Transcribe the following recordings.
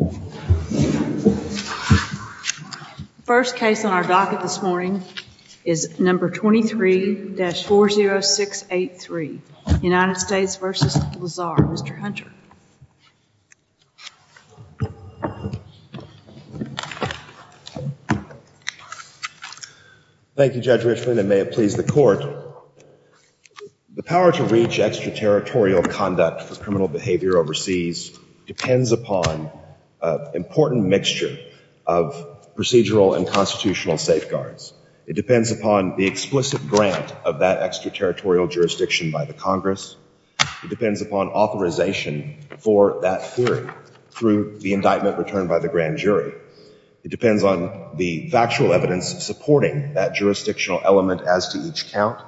The first case on our docket this morning is No. 23-40683, United States v. Lazar. Mr. Hunter. Thank you, Judge Richland, and may it please the court. The power to reach extraterritorial conduct for criminal behavior overseas depends upon an important mixture of procedural and constitutional safeguards. It depends upon the explicit grant of that extraterritorial jurisdiction by the Congress. It depends upon authorization for that theory through the indictment returned by the grand jury. It depends on the factual evidence supporting that jurisdictional element as to each count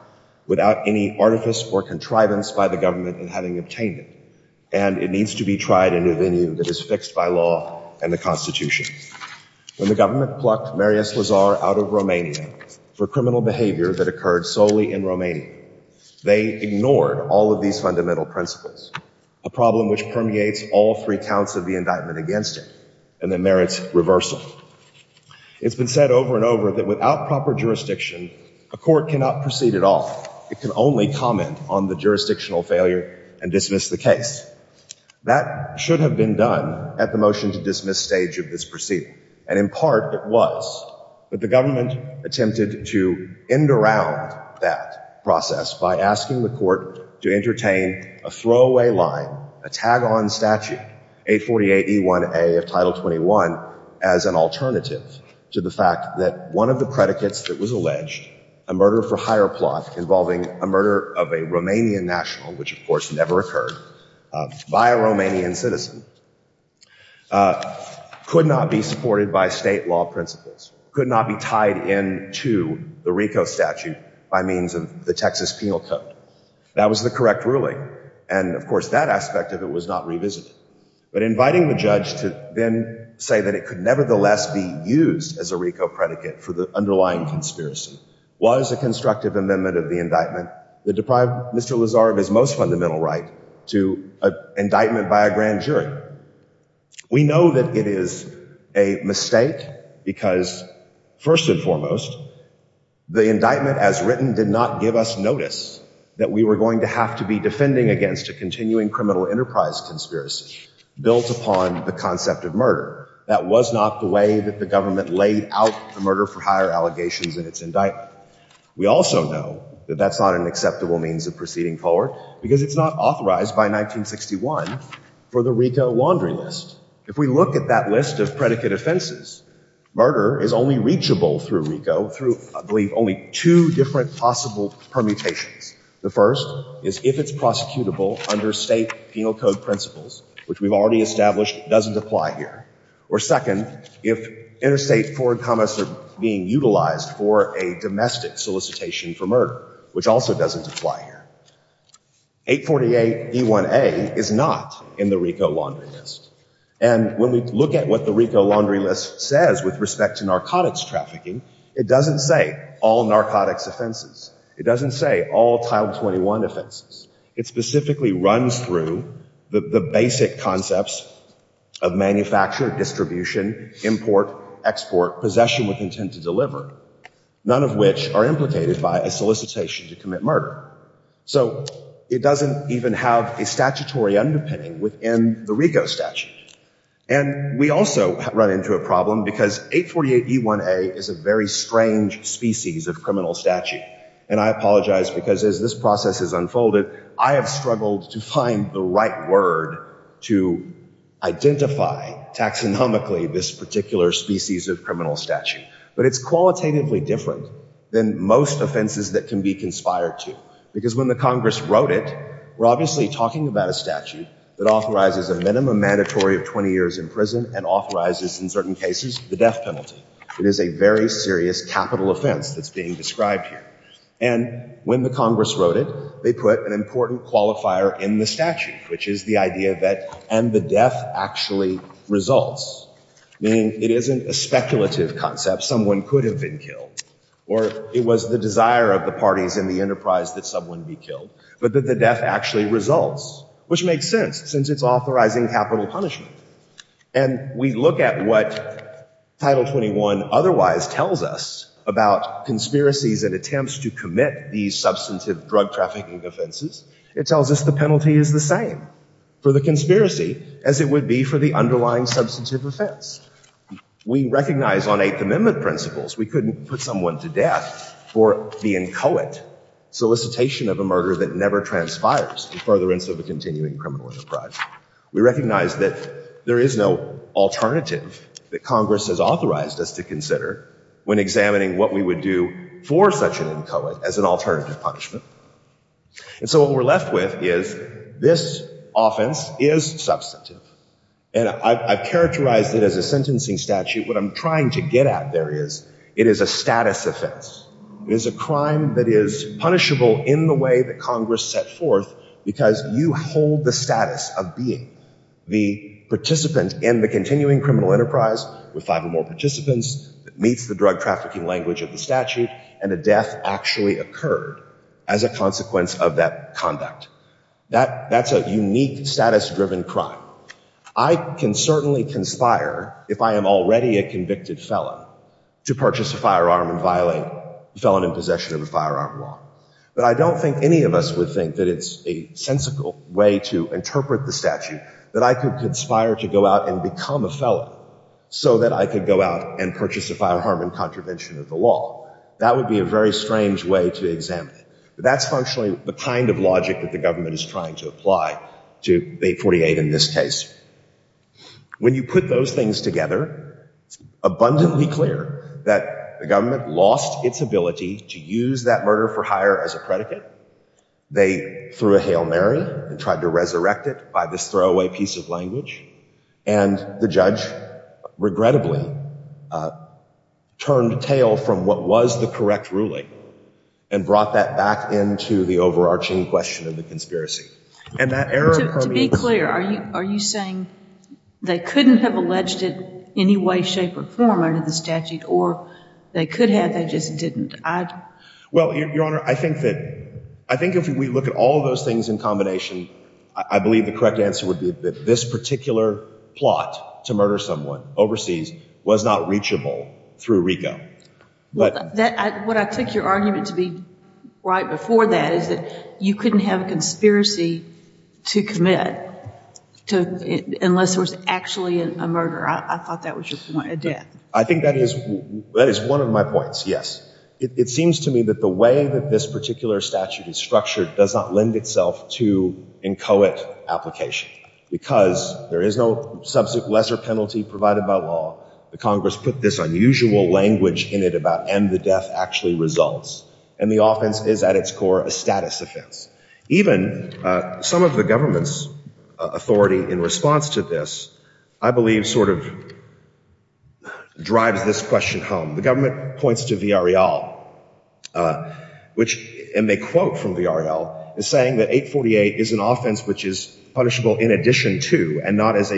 without any artifice or contrivance by the government in having obtained it, and it needs to be tried in a venue that is fixed by law and the Constitution. When the government plucked Marius Lazar out of Romania for criminal behavior that occurred solely in Romania, they ignored all of these fundamental principles, a problem which permeates all three counts of the indictment against him, and that merits reversal. It's been said over and over that without proper jurisdiction, a court cannot proceed at all. It can only comment on the jurisdictional failure and dismiss the case. That should have been done at the motion-to-dismiss stage of this proceeding, and in part, it was. But the government attempted to end around that process by asking the court to entertain a throwaway line, a tag-on statute, 848E1A of Title 21 as an alternative to the fact that one of the predicates that was alleged, a murder-for-hire plot involving a murder of a Romanian national, which of course never occurred, by a Romanian citizen, could not be supported by state law principles, could not be tied into the RICO statute by means of the Texas Penal Code. That was the correct ruling, and of course, that aspect of it was not revisited. But inviting the judge to then say that it could nevertheless be used as a RICO predicate for the underlying conspiracy was a constructive amendment of the indictment that deprived Mr. Lazar of his most fundamental right to an indictment by a grand jury. We know that it is a mistake because, first and foremost, the indictment as written did not give us notice that we were going to have to be defending against a continuing criminal enterprise conspiracy built upon the concept of murder. That was not the way that the government laid out the murder-for-hire allegations in its indictment. We also know that that's not an acceptable means of proceeding forward because it's not authorized by 1961 for the RICO laundry list. If we look at that list of predicate offenses, murder is only reachable through RICO through, I believe, only two different possible permutations. The first is if it's prosecutable under state penal code principles, which we've already established doesn't apply here. Or second, if interstate forward comments are being utilized for a domestic solicitation for murder, which also doesn't apply here. 848 D1A is not in the RICO laundry list. And when we look at what the RICO laundry list says with respect to narcotics trafficking, it doesn't say all narcotics offenses. It doesn't say all Title 21 offenses. It specifically runs through the basic concepts of manufacture, distribution, import, export, possession with intent to deliver, none of which are implicated by a solicitation to commit murder. So it doesn't even have a statutory underpinning within the RICO statute. And we also run into a problem because 848 E1A is a very strange species of criminal statute. And I apologize because as this process has unfolded, I have struggled to find the right word to identify taxonomically this particular species of criminal statute. But it's qualitatively different than most offenses that can be conspired to. Because when the Congress wrote it, we're obviously talking about a statute that authorizes a minimum mandatory of 20 years in prison and authorizes in certain cases the death penalty. It is a very serious capital offense that's being described here. And when the Congress wrote it, they put an important qualifier in the statute, which is the idea that and the death actually results. Meaning it isn't a speculative concept. Someone could have been killed. Or it was the desire of the parties in the enterprise that someone be killed. But that the death actually results, which makes sense since it's authorizing capital punishment. And we look at what Title 21 otherwise tells us about conspiracies and attempts to commit these substantive drug trafficking offenses. It tells us the penalty is the same for the conspiracy as it would be for the underlying substantive offense. We recognize on Eighth Amendment principles we couldn't put someone to death for the inchoate solicitation of a murder that never transpires in furtherance of a continuing criminal enterprise. We recognize that there is no alternative that Congress has authorized us to consider when examining what we would do for such an inchoate as an alternative punishment. And so what we're left with is this offense is substantive. And I've characterized it as a sentencing statute. What I'm trying to get at there is, it is a status offense. It is a crime that is punishable in the way that Congress set forth because you hold the status of being the participant in the continuing criminal enterprise with five or more participants that meets the drug trafficking language of the statute and a death actually occurred as a consequence of that conduct. That's a unique status driven crime. I can certainly conspire if I am already a convicted felon to purchase a firearm and violate the felon in possession of a firearm law. But I don't think any of us would think that it's a sensical way to interpret the statute that I could conspire to go out and become a felon so that I could go out and purchase a firearm in contravention of the law. That would be a very strange way to examine it. But that's functionally the kind of logic that the government is trying to apply to 848 in this case. When you put those things together, it's abundantly clear that the government lost its ability to use that murder for hire as a predicate. They threw a Hail Mary and tried to resurrect it by this throwaway piece of language. And the judge, regrettably, turned a tail from what was the correct ruling and brought that back into the overarching question of the conspiracy. To be clear, are you saying they couldn't have alleged it any way, shape or form under the statute or they could have, they just didn't? I think if we look at all of those things in combination, I believe the correct answer would be that this particular plot to murder someone overseas was not reachable through RICO. What I mean is you couldn't have a conspiracy to commit unless it was actually a murder. I thought that was your point. I think that is one of my points, yes. It seems to me that the way that this particular statute is structured does not lend itself to inchoate application. Because there is no lesser penalty provided by law, the Congress put this unusual language in it about and the death actually results. And the offense is at its core a status offense. Even some of the government's authority in response to this, I believe sort of drives this question home. The government points to V.R.L., and they quote from V.R.L., saying that 848 is an offense which is punishable in addition to and not as a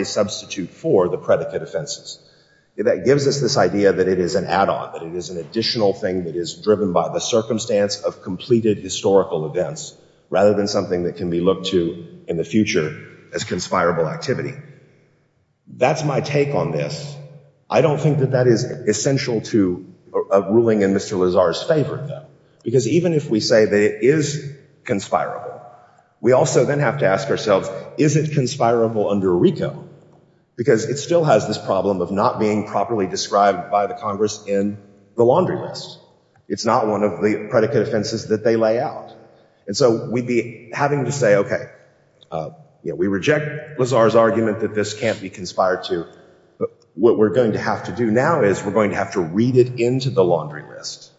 add-on. It is an additional thing that is driven by the circumstance of completed historical events rather than something that can be looked to in the future as conspirable activity. That's my take on this. I don't think that that is essential to a ruling in Mr. Lazar's favor, though. Because even if we say that it is conspirable, we also then have to ask ourselves, is it conspirable under RICO? Because it still has this problem of not being properly described by the Congress in the laundry list. It's not one of the predicate offenses that they lay out. And so we'd be having to say, okay, we reject Lazar's argument that this can't be conspired to. What we're going to have to do now is we're going to have to read it into the laundry list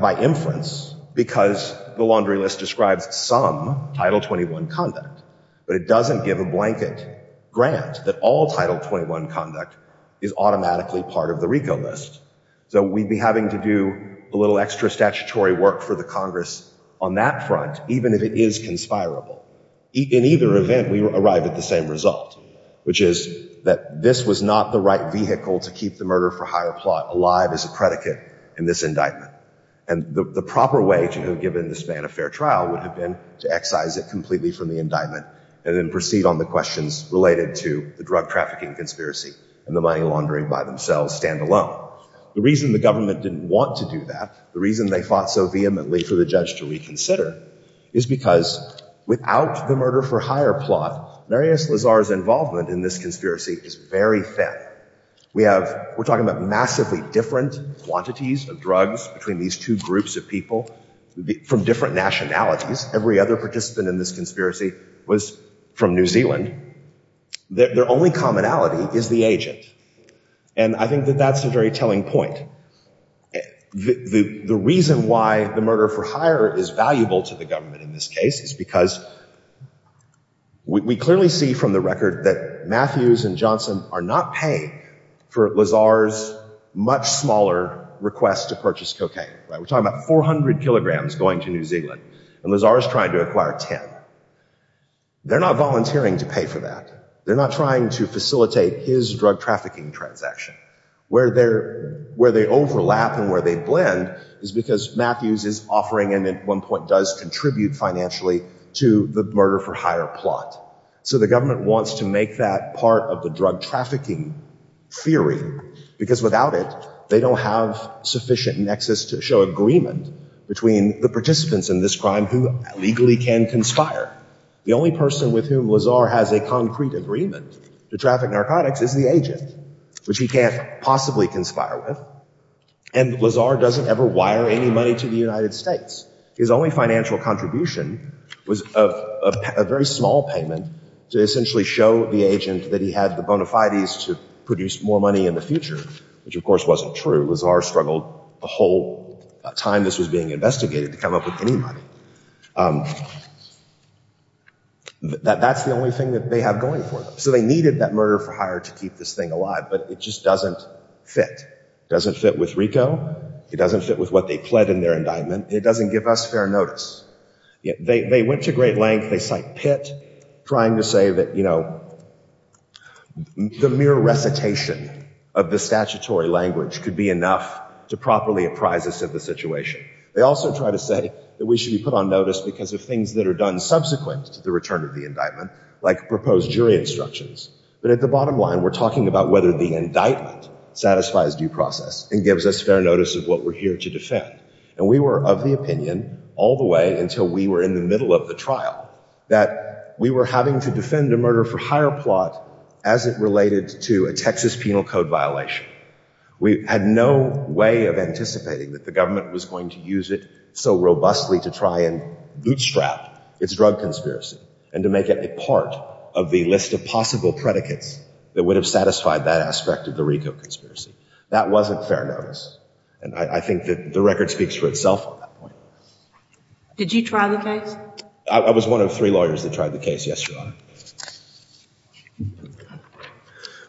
by inference because the laundry list describes some Title 21 conduct. But it doesn't give a blanket grant that all Title 21 conduct is automatically part of the RICO list. So we'd be having to do a little extra statutory work for the Congress on that front, even if it is conspirable. In either event, we arrive at the same result, which is that this was not the right vehicle to keep the murder for hire plot alive as a predicate in this indictment. And the proper way to have given this man a fair trial would have been to excise it completely from the indictment and then proceed on the questions related to the drug trafficking conspiracy and the money laundering by themselves stand alone. The reason the government didn't want to do that, the reason they fought so vehemently for the judge to reconsider, is because without the murder for hire plot, Marius Lazar's involvement in this conspiracy is very thin. We're talking about massively different quantities of drugs between these two groups of people from different nationalities. Every other participant in this conspiracy was from New Zealand. Their only commonality is the agent. And I think that that's a very telling point. The reason why the murder for hire is valuable to the government in this case is because we clearly see from the record that Matthews and Johnson are not paying for Lazar's much smaller request to be paid. And Lazar's trying to acquire Tim. They're not volunteering to pay for that. They're not trying to facilitate his drug trafficking transaction. Where they overlap and where they blend is because Matthews is offering and at one point does contribute financially to the murder for hire plot. So the government wants to make that part of the drug trafficking theory because without it, they don't have sufficient nexus to show agreement between the participants in this crime who legally can conspire. The only person with whom Lazar has a concrete agreement to traffic narcotics is the agent, which he can't possibly conspire with. And Lazar doesn't ever wire any money to the United States. His only financial contribution was a very small payment to essentially show the agent that he had the bona fides to produce more money in the future, which of course wasn't true. Lazar struggled the whole time this was being investigated to come up with any money. That's the only thing they have going for them. So they needed that murder for hire to keep this thing alive. But it just doesn't fit. It doesn't fit with RICO. It doesn't fit with what they pled in their indictment. It doesn't give us fair notice. They went to great length. They tried to say that the mere recitation of the statutory language could be enough to properly apprise us of the situation. They also try to say that we should be put on notice because of things that are done subsequent to the return of the indictment, like proposed jury instructions. But at the bottom line, we're talking about whether the indictment satisfies due process and gives us fair notice of what we're here to defend. And we were of the opinion all the way until we were in the middle of the trial that we were having to defend a murder for hire plot as it related to a Texas penal code violation. We had no way of anticipating that the government was going to use it so robustly to try and bootstrap its drug conspiracy and to make it a part of the list of possible predicates that would have satisfied that aspect of the RICO conspiracy. That wasn't fair notice. I think the record speaks for itself at that point. I was one of three lawyers that tried the case.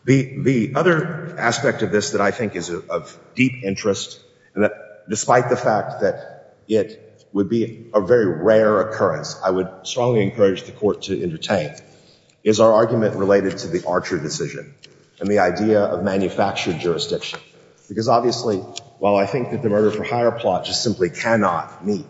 The other aspect of this that I think is of deep interest, despite the fact that it would be a very rare occurrence, I would strongly encourage the court to entertain, is our argument related to the Archer decision and the idea of manufactured jurisdiction. Because obviously while I think that the murder for hire plot just simply cannot meet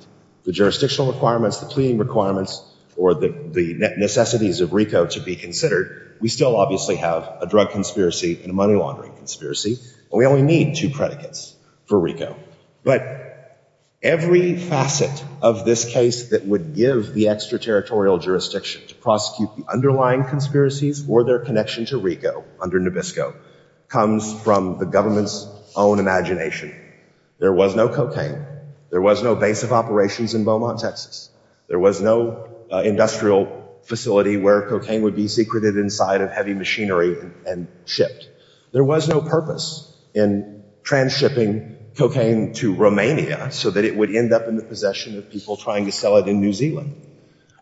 the jurisdictional requirements, the pleading requirements or the necessities of RICO to be considered, we still obviously have a drug conspiracy and a money laundering conspiracy. And we only need two predicates for RICO. But every facet of this case that would give the extraterritorial jurisdiction to prosecute the underlying conspiracies or their perpetrators, there was no cocaine. There was no base of operations in Beaumont, Texas. There was no industrial facility where cocaine would be secreted inside of heavy machinery and shipped. There was no purpose in transshipping cocaine to Romania so that it would end up in the possession of people trying to sell it in New Zealand.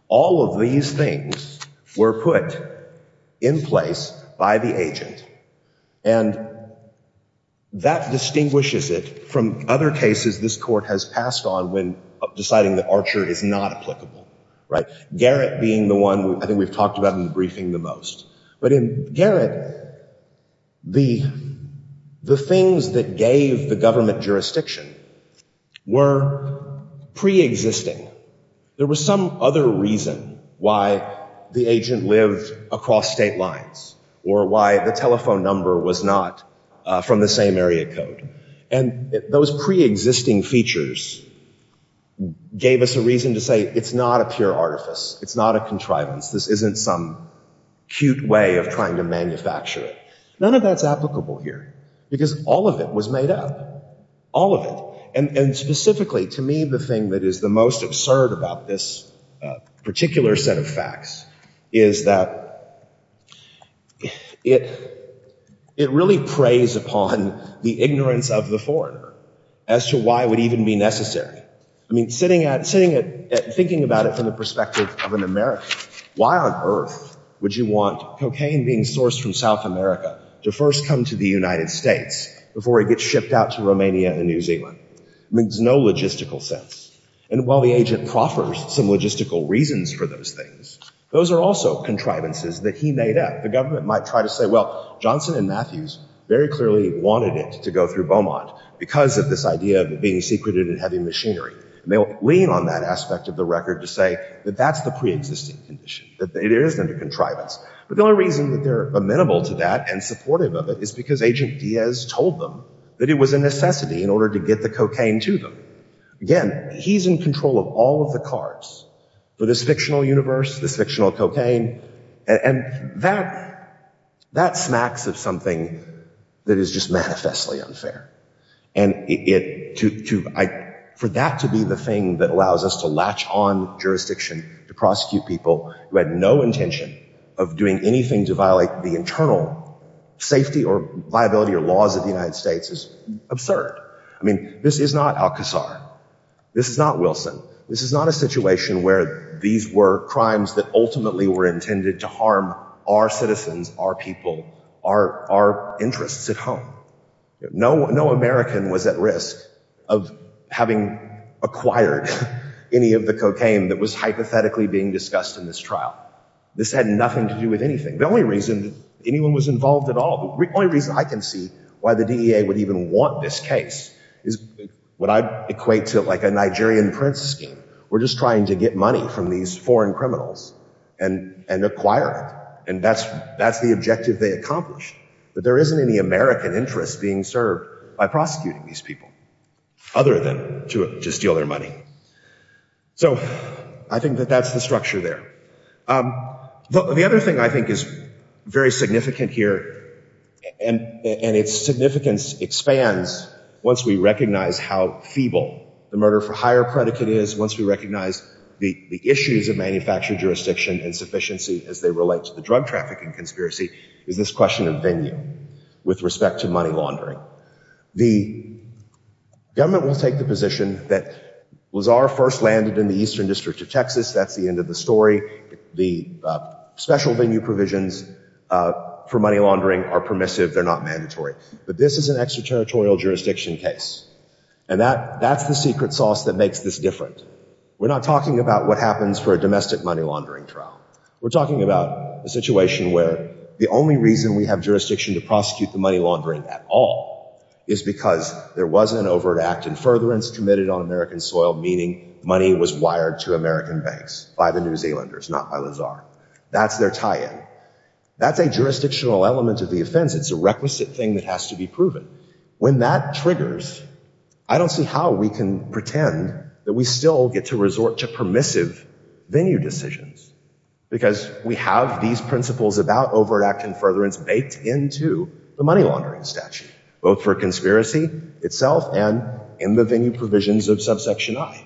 All of these things were put in place by the agent. And that distinguishes it from other cases this court has passed on when deciding that Archer is not applicable. Garrett being the one I think we've talked about in the briefing the most. But in Garrett, the things that gave the government jurisdiction were preexisting. There was some other reason why the agent lived across state lines or why the telephone number was not from the same area code. And those preexisting features gave us a reason to say it's not a pure artifice. It's not a contrivance. This isn't some cute way of trying to manufacture it. None of that's applicable here. Because all of it was made up. All of it. And specifically to me the thing that is the most absurd about this particular set of facts is that it really preys upon the ignorance of the foreigner as to why it would even be necessary. Sitting at thinking about it from the perspective of an American, why on earth would you want cocaine being sourced from South America to first come to the United States before it gets shipped out to Romania and New Zealand? There's no logistical sense. And while the agent proffers some logistical reasons for those things, those are also contrivances that he made up. The government might try to say, well, Johnson and Matthews very clearly wanted it to go through Beaumont because of this idea of it being secreted and having machinery. And they'll lean on that aspect of the record to say that that's the preexisting condition. That it is under contrivance. But the only reason that they're amenable to that and supportive of it is because agent Diaz told them that it was a necessity in order to get the cocaine to them. Again, he's in control of all of the cards for this fictional universe, this fictional cocaine. And that smacks of something that is just manifestly unfair. And for that to be the thing that allows us to latch on jurisdiction to prosecute people who had no intention of doing anything to violate the internal safety or viability or laws of the United States is absurd. I mean, this is not Alcazar. This is not Wilson. This is not a situation where these were crimes that ultimately were intended to harm our citizens, our people, our interests at home. No American was at risk of having acquired any of the cocaine that was hypothetically being discussed in this trial. This had nothing to do with anything. The only reason anyone was involved at all, the only reason I can see why the DEA would even want this case is what I call a Nigerian prince scheme. We're just trying to get money from these foreign criminals and acquire it. And that's the objective they accomplished. But there isn't any American interest being served by prosecuting these people other than to steal their money. So I think that that's the structure there. The other thing I think is very significant here and its fundamental, the murder for hire predicate is once we recognize the issues of manufactured jurisdiction and sufficiency as they relate to the drug trafficking conspiracy is this question of venue with respect to money laundering. The government will take the position that Alcazar first landed in the eastern district of Texas. That's the end of the story. The special venue provisions for money laundering are permissive. They're not mandatory. But this is an extraterritorial jurisdiction case. And that's the secret sauce that makes this different. We're not talking about what happens for a domestic money laundering trial. We're talking about a situation where the only reason we have jurisdiction to prosecute the money laundering at all is because there was an overt act in furtherance committed on American soil, meaning money was wired to American banks by the New Zealanders, not Alcazar. That's their tie in. That's a jurisdictional element of the case. When that triggers, I don't see how we can pretend that we still get to resort to permissive venue decisions. Because we have these principles about overt act in furtherance baked into the money laundering statute, both for conspiracy itself and in the venue provisions of subsection I.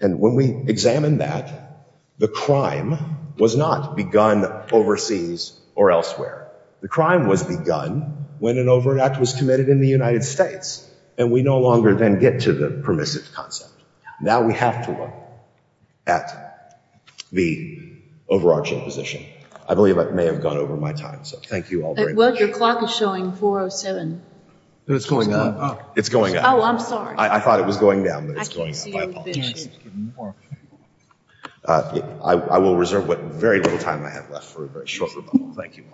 And when we examine that, the crime was not begun overseas or elsewhere. The crime was begun when an overt act was committed in the United States. And we no longer then get to the permissive concept. Now we have to look at the overarching position. I believe I may have gone over my time. So thank you all very much. Your clock is showing 4.07. It's going up. I thought it was going down. I will reserve what very little time I have left for a very short rebuttal. Thank you.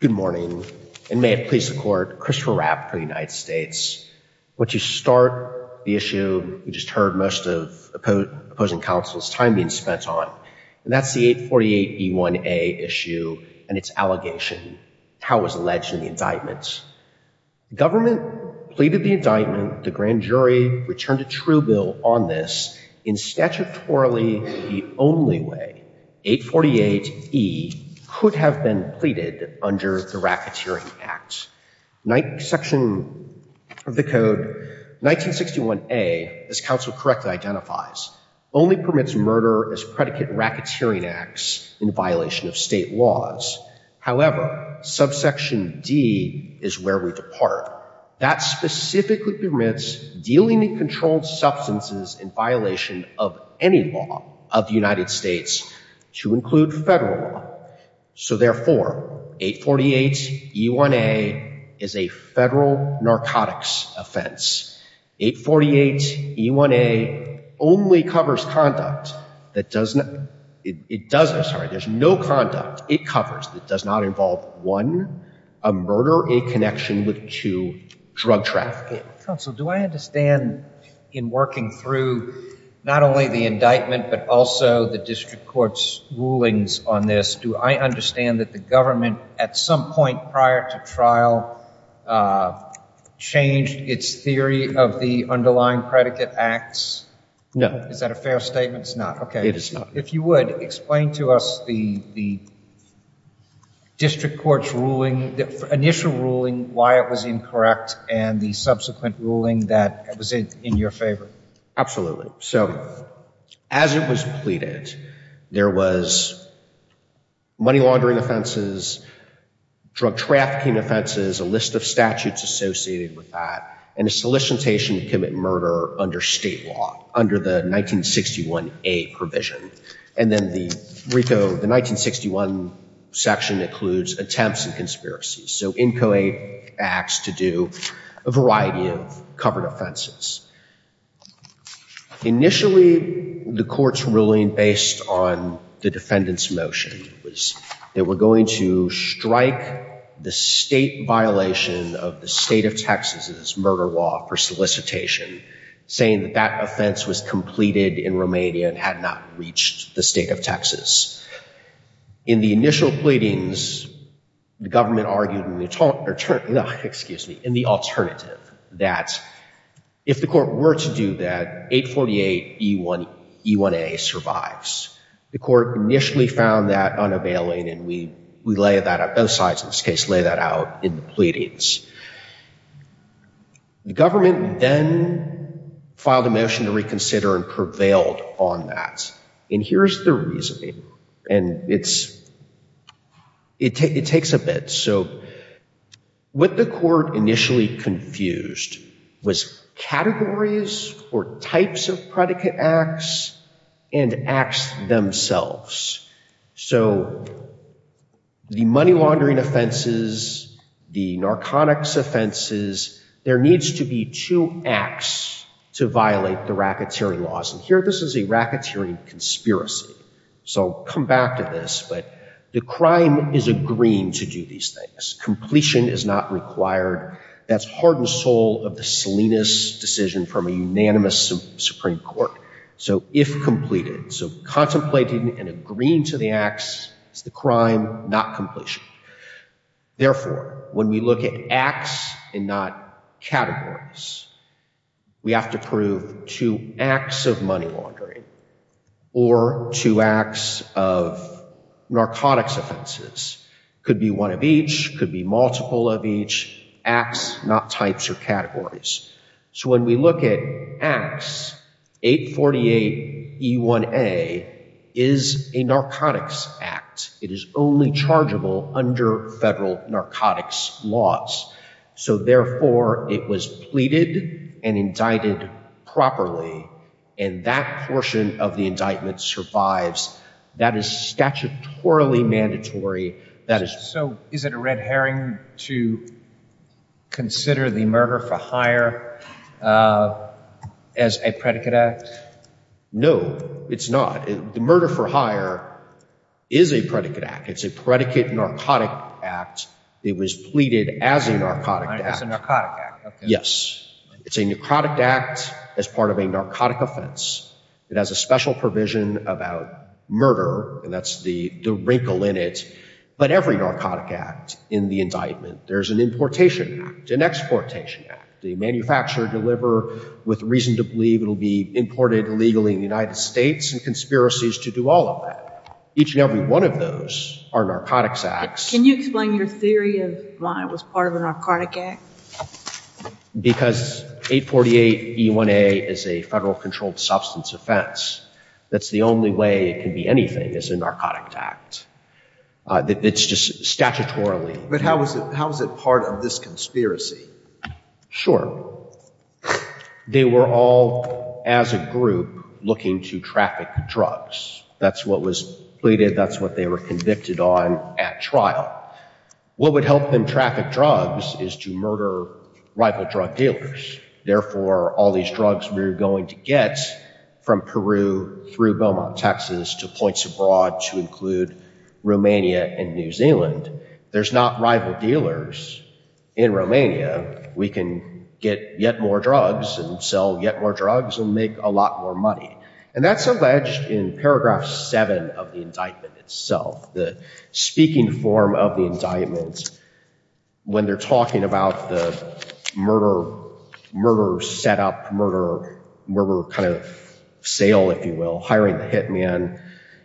Good morning. And may it please the court, Christopher Rapp for the United States. I want to start the issue we just heard most of opposing counsel's time being spent on. And that's the 848E1A issue and its allegation. How it was alleged in the indictment. Government pleaded the indictment. The grand jury returned a true bill on this in statutorily the only way. 848E could have been pleaded under the racketeering act. Section of the code 1961A, as counsel correctly identifies, only permits murder as predicate racketeering acts in violation of state laws. However, subsection D is where we depart. That specifically permits dealing in narcotics. Therefore, 848E1A is a federal narcotics offense. 848E1A only covers conduct that does not, it does, I'm sorry, there's no conduct it covers that does not involve one, a murder, a connection with two, drug trafficking. Counsel, do I understand in working through not only the indictment, but also the district court's rulings on this, do I understand that the government at some point prior to trial changed its theory of the underlying predicate acts? No. Is that a fair statement? It's not. Okay. It is not. If you would, explain to us the district court's ruling, initial ruling, why it was incorrect and the subsequent ruling that was in your favor. Absolutely. So as it was pleaded, there was money laundering offenses, drug trafficking offenses, a list of statutes associated with that, and a solicitation to commit murder under state law, under the 1961A provision. And then the RICO, the 1961 section includes attempts and conspiracies, so inchoate acts to do a variety of covered offenses. Initially, the court's ruling based on the defendant's motion was they were going to strike the state violation of the state of Texas' murder law for solicitation, saying that that offense was pleaded in Romania and had not reached the state of Texas. In the initial pleadings, the government argued in the alternative that if the court were to do that, 848E1A survives. The court initially found that unavailing, and we lay that out, both sides in this case lay that out in the pleadings. The government then filed a motion to reconsider and prevailed on that. And here's the reasoning, and it takes a bit. So what the court initially confused was categories or types of predicate acts and acts themselves. So the money laundering offenses, the narcotics offenses, there needs to be two acts to violate the racketeering laws, and here this is a racketeering conspiracy. So come back to this, but the crime is agreeing to do these things. Completion is not required. That's heart and soul of the Salinas decision from a unanimous Supreme Court. So if completed, so contemplating and agreeing to the acts is the crime, not completion. Therefore, when we look at acts and not categories, we have to prove two acts of money laundering or two acts of narcotics offenses. Could be one of each, could be multiple of each, acts, not types or categories. So when we look at acts, 848E1A is a narcotics act. It is only chargeable under federal narcotics laws. So therefore, it was pleaded and indicted properly, and that portion of the indictment survives. That is statutorily mandatory. So is it a red herring to consider the murder for hire as a predicate act? It's a predicate narcotic act. It was pleaded as a narcotic act. Yes. It's a narcotic act as part of a narcotic offense. It has a special provision about murder, and that's the wrinkle in it. But every narcotic act in the indictment, there's an importation act, an exportation act. The federal government has a right to do all of that. Each and every one of those are narcotics acts. Can you explain your theory of why it was part of a narcotic act? Because 848E1A is a federal controlled substance offense. That's the only way it can be anything is a narcotic act. It's just statutorily. But how is it part of this indictment? Sure. They were all, as a group, looking to traffic drugs. That's what was pleaded. That's what they were convicted on at trial. What would help them traffic drugs is to murder rival drug dealers. Therefore, all these drugs we're going to get from Peru through Beaumont, Texas to points abroad to Romania and New Zealand, there's not rival dealers in Romania. We can get yet more drugs and sell yet more drugs and make a lot more money. And that's alleged in paragraph seven of the indictment itself. The speaking form of the indictment, when they're talking about the murder setup, murder kind of sale, if you will. And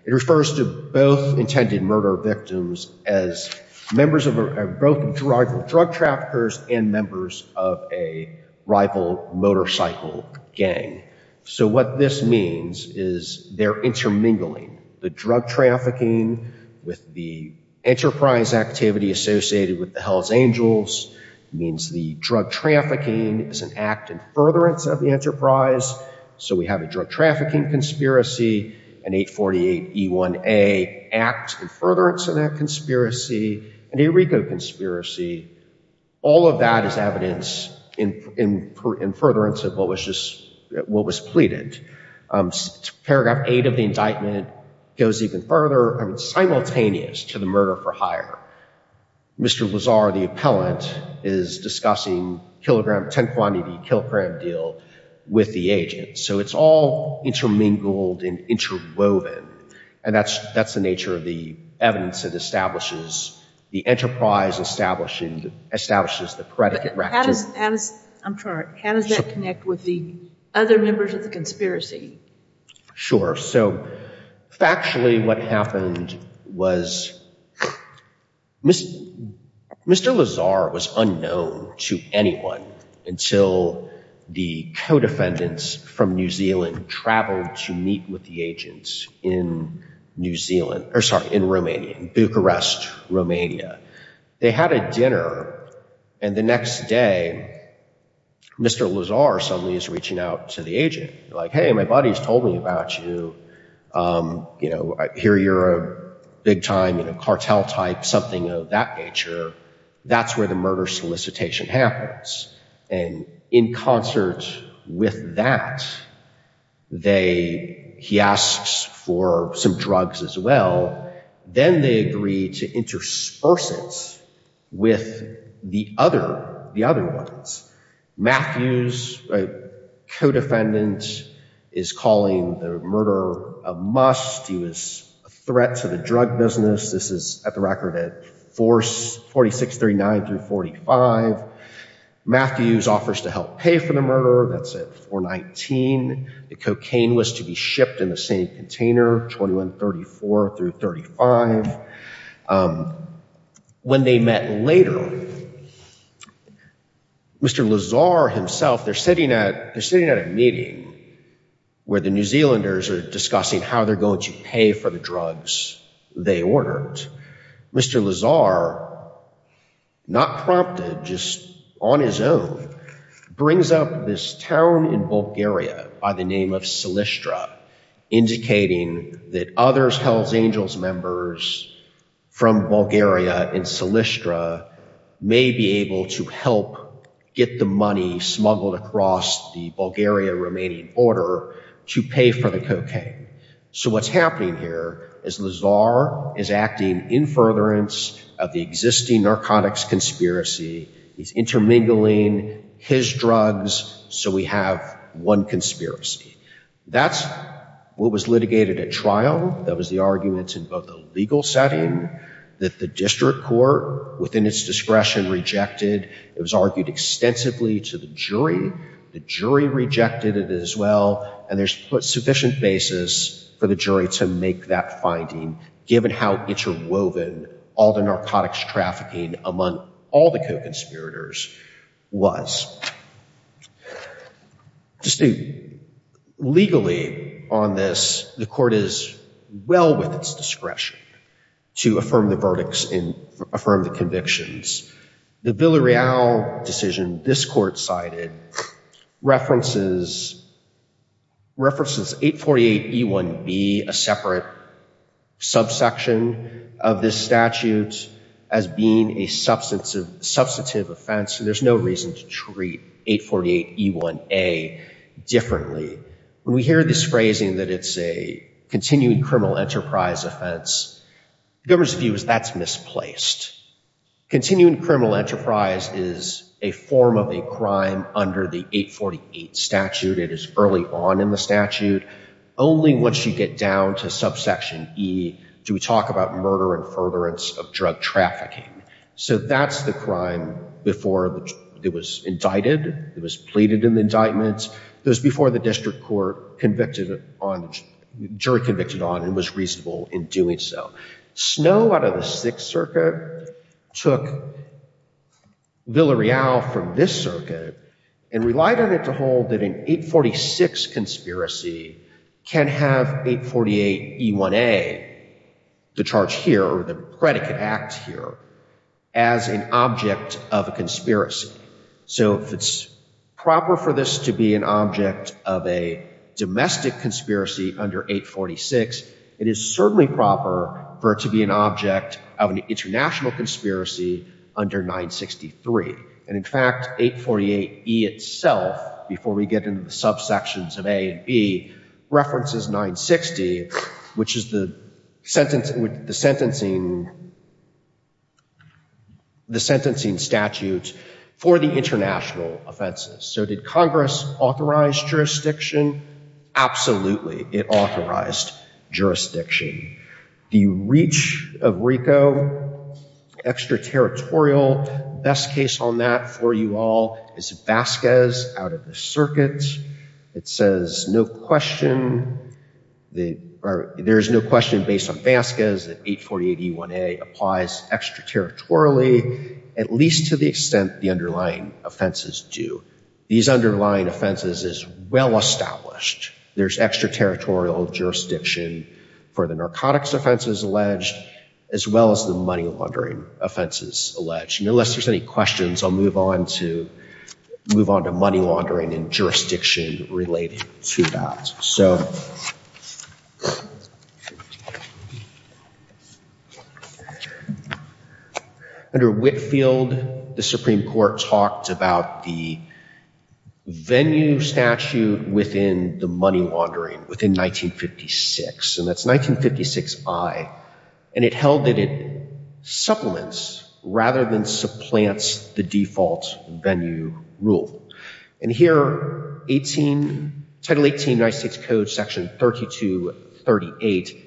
it refers to both intended murder victims as members of both drug traffickers and members of a rival motorcycle gang. So what this means is they're intermingling. The drug trafficking with the enterprise activity associated with the Hells Angels means the drug trafficking is an act in furtherance of the enterprise. So we have a drug trafficking conspiracy, an 848E1A act in furtherance of that conspiracy, an ERICO conspiracy. All of that is evidence in furtherance of what was pleaded. Paragraph eight of the indictment goes even further, simultaneous to the murder for hire. Mr. Lazar, the defendant, is discussing kilogram, 10 quantity kilogram deal with the agent. So it's all intermingled and interwoven. And that's the nature of the evidence that establishes the enterprise establishing, establishes the predicate. I'm sorry. How does that connect with the other members of the conspiracy? Sure. So factually what happened was Mr. Lazar was unknown to anyone until the co-defendants from New Zealand traveled to meet with the agents in New Zealand, or sorry, in Romania, in Bucharest, Romania. They had a dinner and the next day, Mr. Lazar suddenly is reaching out to the agent like, hey, my buddy's told me about you. You know, I hear you're a big time, you know, cartel type, something of that nature. That's where the murder solicitation happens. And in concert with that, they, he asks for some drugs as well. Then they agree to intersperse it with the other, the other ones. Matthews, co-defendant, is calling the murderer a must. He was a threat to the drug business. This is at the record at 4639 through 45. Matthews offers to help pay for the murderer. That's at 419. The cocaine was to be shipped in the same container, 2134 through 35. When they met later, Mr. Lazar himself, they're discussing how they're going to pay for the drugs they ordered. Mr. Lazar, not prompted, just on his own, brings up this town in Bulgaria by the name of Selestra, indicating that other Hells Angels members from Bulgaria and Selestra may be able to help get the money smuggled across the Bulgaria remaining border to pay for the cocaine. So what's happening here is Lazar is acting in furtherance of the existing narcotics conspiracy. He's intermingling his business so we have one conspiracy. That's what was litigated at trial. That was the argument in both the legal setting that the district court within its discretion rejected. It was argued extensively to the jury. The jury rejected it as well. And there's sufficient basis for the jury to make that finding given how interwoven all the narcotics trafficking among all the co-conspirators was. Legally on this, the court is well within its jurisdiction to treat subsection of this statute as being a substantive offense. There's no reason to treat 848E1A differently. When we hear this phrasing that it's a continuing criminal enterprise offense, the government's view is that's misplaced. Continuing criminal enterprise is a form of a crime under the 848 statute. It is early on in the statute. Only once you get down to subsection E do we talk about murder and furtherance of drug trafficking. So that's the crime before it was indicted. It was pleaded in the indictment. It was before the district court convicted on, jury convicted on and was reasonable in doing so. Snow out of the 6th circuit took Villareal from this circuit and relied on it to hold that an 846 conspiracy can have 848E1A, the charge here, the predicate act here, as an object of a conspiracy. So if it's proper for this to be an 848 domestic conspiracy under 846, it is certainly proper for it to be an object of an international conspiracy under 963. And in fact, 848E itself, before we get into the subsections of A and B, references 960, which is the sentencing statute for the international offenses. So did Congress authorize jurisdiction? Absolutely. It authorized jurisdiction. The reach of RICO, extraterritorial, best case on that for you all is Vasquez out of the circuit. It says no question, there's no question based on Vasquez that 848E1A applies extraterritorially at least to the extent the underlying offenses do. These underlying offenses is well established. There's extraterritorial jurisdiction for the narcotics offenses alleged as well as the money laundering offenses alleged. Unless there's any questions, I'll move on to money laundering and jurisdiction related to that. So under Whitfield, the Supreme Court passed a bill about the venue statute within the money laundering within 1956. And that's 1956I. And it held that it supplements rather than supplants the default venue rule. And here title 18 United States code section 3238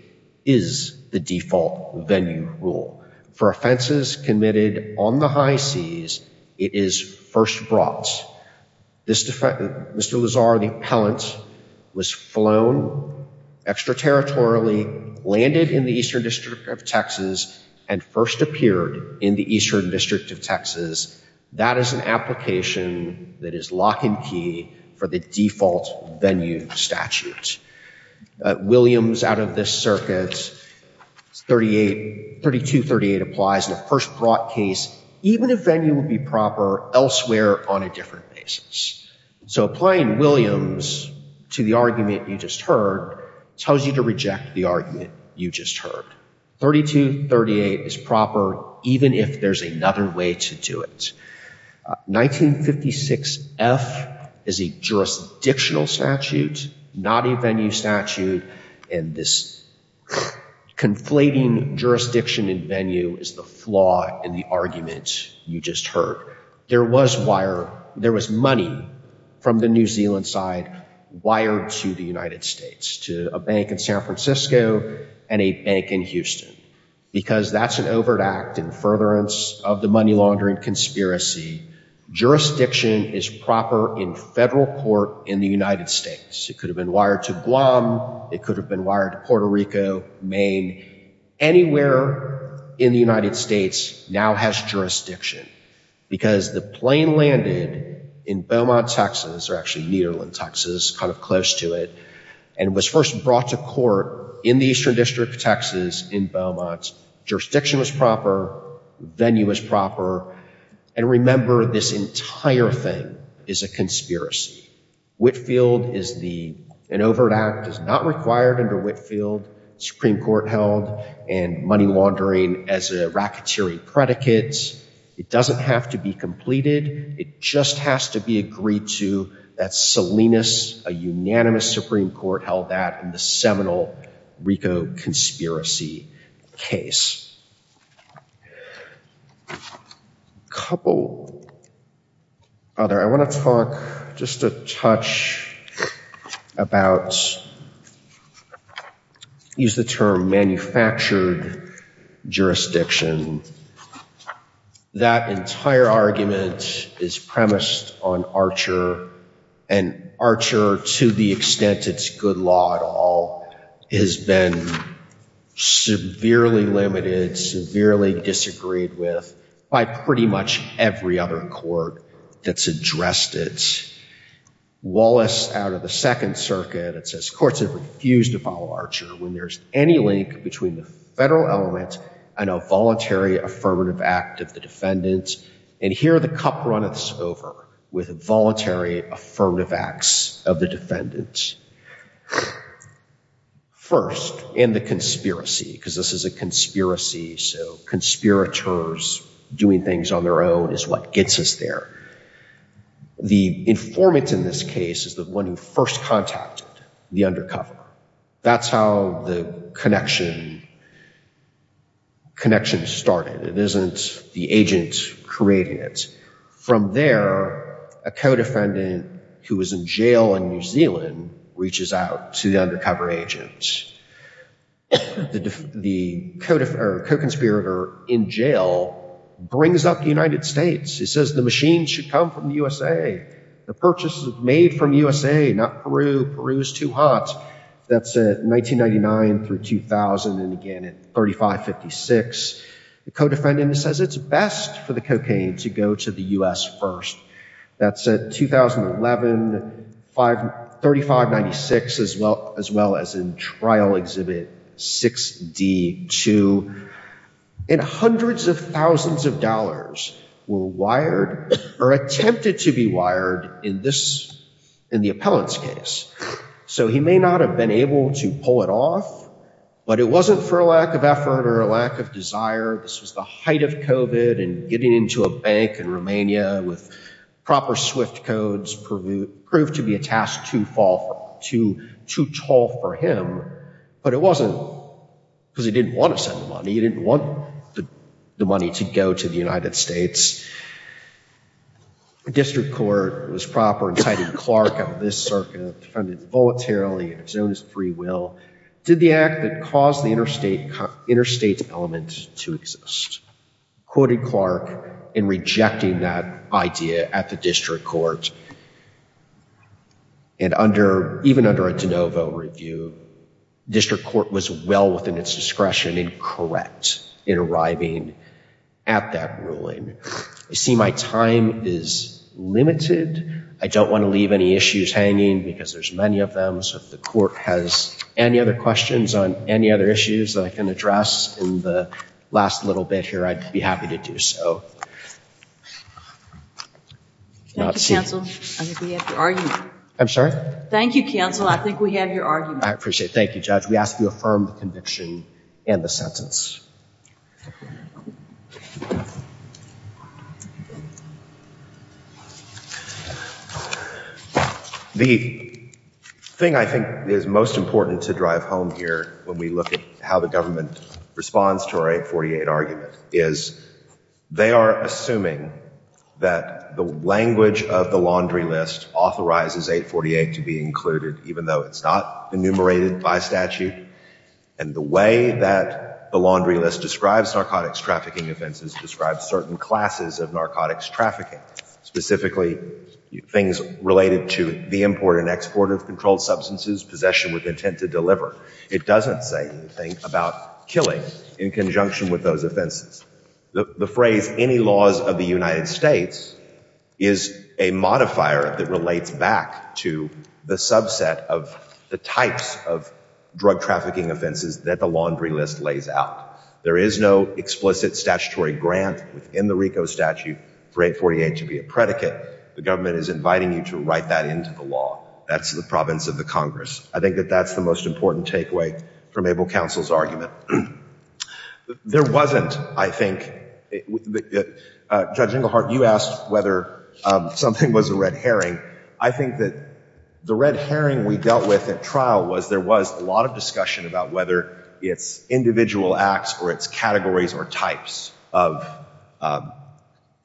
is the default venue rule. For offenses committed on the high seas, it is first brought. Mr. Lazar, the appellant was flown extraterritorially, landed in the eastern district of Texas and first appeared in the eastern district of Texas. That is an application that is lock and key for the default venue statute. Williams out of this circuit, 3238 applies in a first brought case even if venue would be proper elsewhere on a different basis. So applying Williams to the argument you just heard tells you to reject the argument you just heard. 3238 is proper even if there's another way to do it. 1956F is a jurisdictional statute, not a venue statute. And this conflating jurisdiction and venue is the flaw in the argument you just heard. There was wire, there was money from the New Zealand side wired to the United States. To a bank in San Francisco and a bank in Houston. Because that's an overt act in furtherance of the money laundering conspiracy. Jurisdiction is proper in federal court in the United States. It could have been wired to Guam, it could have been wired to Puerto Rico, Maine, anywhere in the United States now has jurisdiction. Because the plane landed in Beaumont, Texas, or actually Nederland, Texas, kind of close to it, and was first wired to Guam. However, this entire thing is a conspiracy. Whitfield is the, an overt act is not required under Whitfield, Supreme Court held, and money laundering as a racketeering predicate. It doesn't have to be completed. It just has to be agreed to. That's Salinas, a unanimous Supreme Court held that in the seminal Rico conspiracy case. Couple other, I want to talk just a touch about, use the term manufactured jurisdiction. That entire argument is manufactured jurisdiction. It's not a good law at all. It's been severely limited, severely disagreed with by pretty much every other court that's addressed it. Wallace out of the second circuit, it says courts have refused to follow Archer when there's any link between the federal element and a voluntary affirmative act of the defendant. And here the cup runs over with a voluntary affirmative acts of the defendant. First, in the conspiracy, because this is a conspiracy, so conspirators doing things on their own is what gets us there. The informant in this case is the one who first contacted the undercover. That's how the connection started. It isn't the agent creating it. From there, a co-defendant who was in jail in New Zealand reaches out to the undercover agent. The co-conspirator in jail brings up the United States. He says the machine should come from the U.S.A. The purchase is made from the U.S.A., not the U.S.A. The co-defendant says it's best for the cocaine to go to the U.S. first. That's at 2011, 3596 as well as in trial exhibit 6D2. And hundreds of thousands of dollars were wired or attempted to be wired in this, in the appellant's case. So he may not have been able to pull it off, but it wasn't for a lack of desire. This was the height of COVID and getting into a bank in Romania with proper swift codes proved to be a task too tall for him. But it wasn't because he didn't want to send the money. He didn't want the money to go to the United States. The district court was proper and cited Clark out of this circuit, defended it voluntarily in his own free will. Did the act that caused the interstate element to exist. Quoted Clark in rejecting that idea at the district court. And under, even under a de novo review, district court was well within its discretion and correct in arriving at that ruling. I see my time is limited. I don't want to leave any issues hanging because there's many of them. So if the court has any other questions on any other issues that I can address in the last little bit here, I'd be happy to do so. Thank you, counsel. I think we have your argument. I appreciate it. Thank you, judge. We ask you affirm the conviction and the sentence. The thing I think is most important to drive home here when we look at how the district court approves the statutory 848 argument is they are assuming that the language of the laundry list authorizes 848 to be included even though it's not enumerated by statute. And the way that the laundry list describes narcotics trafficking offenses describes certain classes of narcotics trafficking. Specifically things related to the import and export of controlled substances, possession with intent to deliver. It doesn't say anything about killing in conjunction with those offenses. The phrase any laws of the United States is a modifier that relates back to the subset of the types of drug trafficking offenses that the laundry list lays out. There is no explicit statutory grant within the RICO statute for 848 to be a predicate. The statute is not a predicate. I think that's the most important takeaway from Abel counsel's argument. There wasn't, I think, judge, you asked whether something was a red herring. I think that the red herring we dealt with at trial was there was a lot of discussion about whether it's individual acts or it's categories or types of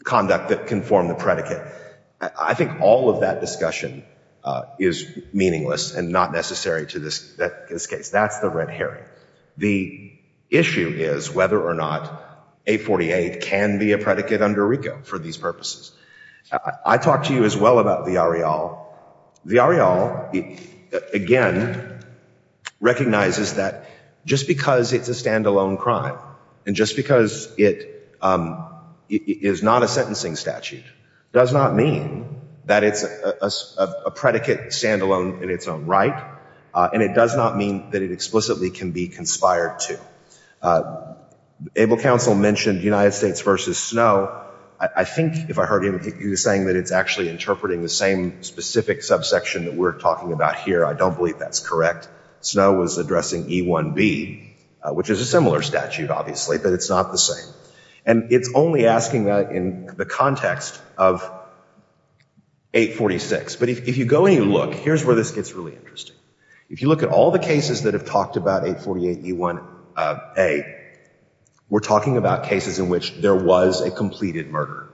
conduct that can form the predicate. I think all of that discussion is meaningless and not necessary to this case. That's the red herring. The issue is whether or not 848 can be a predicate under RICO for these purposes. I talked to you as well about the ARIAL. The ARIAL, again, recognizes that just because it's a stand-alone crime and just because it is not a sentencing statute does not mean that it's a stand-alone crime. It's a predicate stand-alone in its own right. And it does not mean that it explicitly can be conspired to. Abel counsel mentioned United States v. Snow. I think if I heard him, he was saying that it's actually interpreting the same specific subsection that we're talking about here. I don't believe that's correct. Snow was addressing E1B, which is a similar statute, obviously, but it's not the same. And it's only asking that in the context of 846. But if you go and you look, here's where this gets really interesting. If you look at all the cases that have talked about 848E1A, we're talking about cases in which there was a completed murder.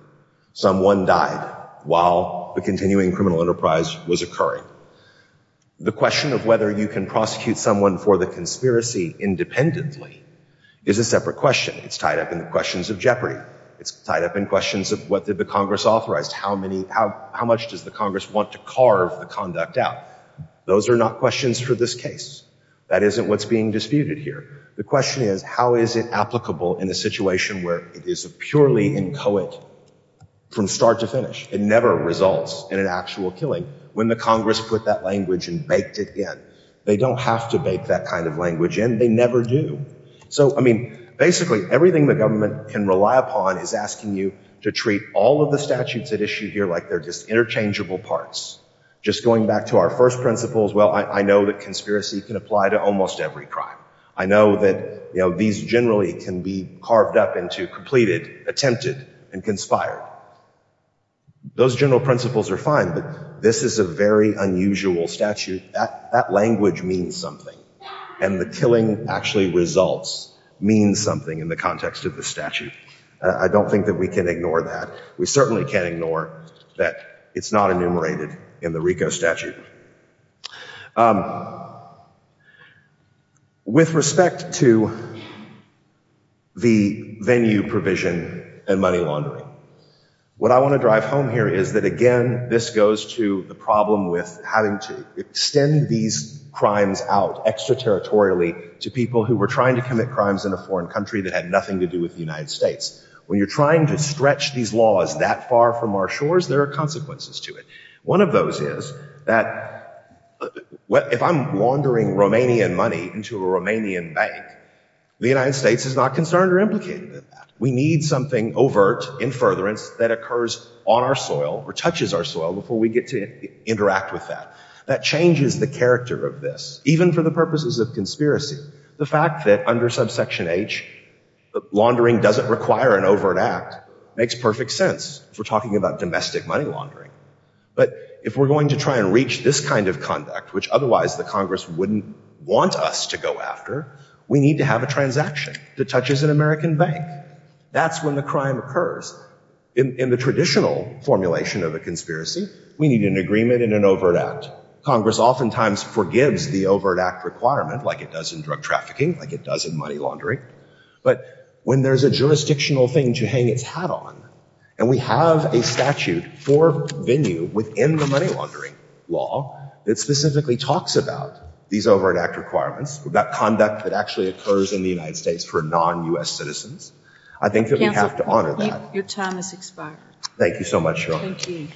Someone died while the continuing criminal enterprise was occurring. The question of whether you can prosecute someone for the conspiracy independently is a separate question. It's tied up in the questions of jeopardy. It's tied up in questions of what did the Congress authorize. How much does the Congress want to carve the conduct out? Those are not questions for this case. That isn't what's being disputed here. The question is, how is it applicable in a situation where it is a purely inchoate from start to finish? It never results in an actual killing. When the Congress put that language and baked it in, they don't have to bake that kind of language in. They never do. So, I mean, basically everything the government can rely upon is asking you to treat all of the statutes at issue here like they're just interchangeable parts. Just going back to our first principles, well, I know that conspiracy can apply to almost every crime. I know that these generally can be carved up into completed, attempted, and conspired. Those general principles are fine, but this is a very unusual statute. That language means something. It's not enumerated. And the killing actually results, means something in the context of the statute. I don't think that we can ignore that. We certainly can't ignore that it's not enumerated in the RICO statute. With respect to the venue provision and money laundering, what I want to drive home here is that, again, this goes to the problem with having to extend these crimes out, extraterritorially, to people who were trying to commit crimes in a foreign country that had nothing to do with the United States. When you're trying to stretch these laws that far from our shores, there are consequences to it. One of those is that if I'm laundering Romanian money into a Romanian bank, the United States is not concerned or implicated in that. We need something overt, in furtherance, that occurs on our soil or touches our soil before we get to interact with that. That changes the character of this, even for the purposes of conspiracy. The fact that under subsection H, laundering doesn't require an overt act makes perfect sense if we're talking about domestic money laundering. But if we're going to try to reach this kind of conduct, which otherwise the Congress wouldn't want us to go after, we need to have a transaction that touches an American bank. That's when the crime occurs. In the traditional formulation of a conspiracy, we need an agreement and an overt act. Congress oftentimes forgives the overt act requirement, like it does in drug trafficking, like it does in money laundering. But when there's a jurisdictional thing to hang its hat on, and we have a statute for venue within the money laundering law that specifically talks about these overt act requirements, about conduct that actually occurs in the United States for non-U.S. citizens, I think that we have to honor that. Your time has expired. Thank you so much. Thank you. Thank you.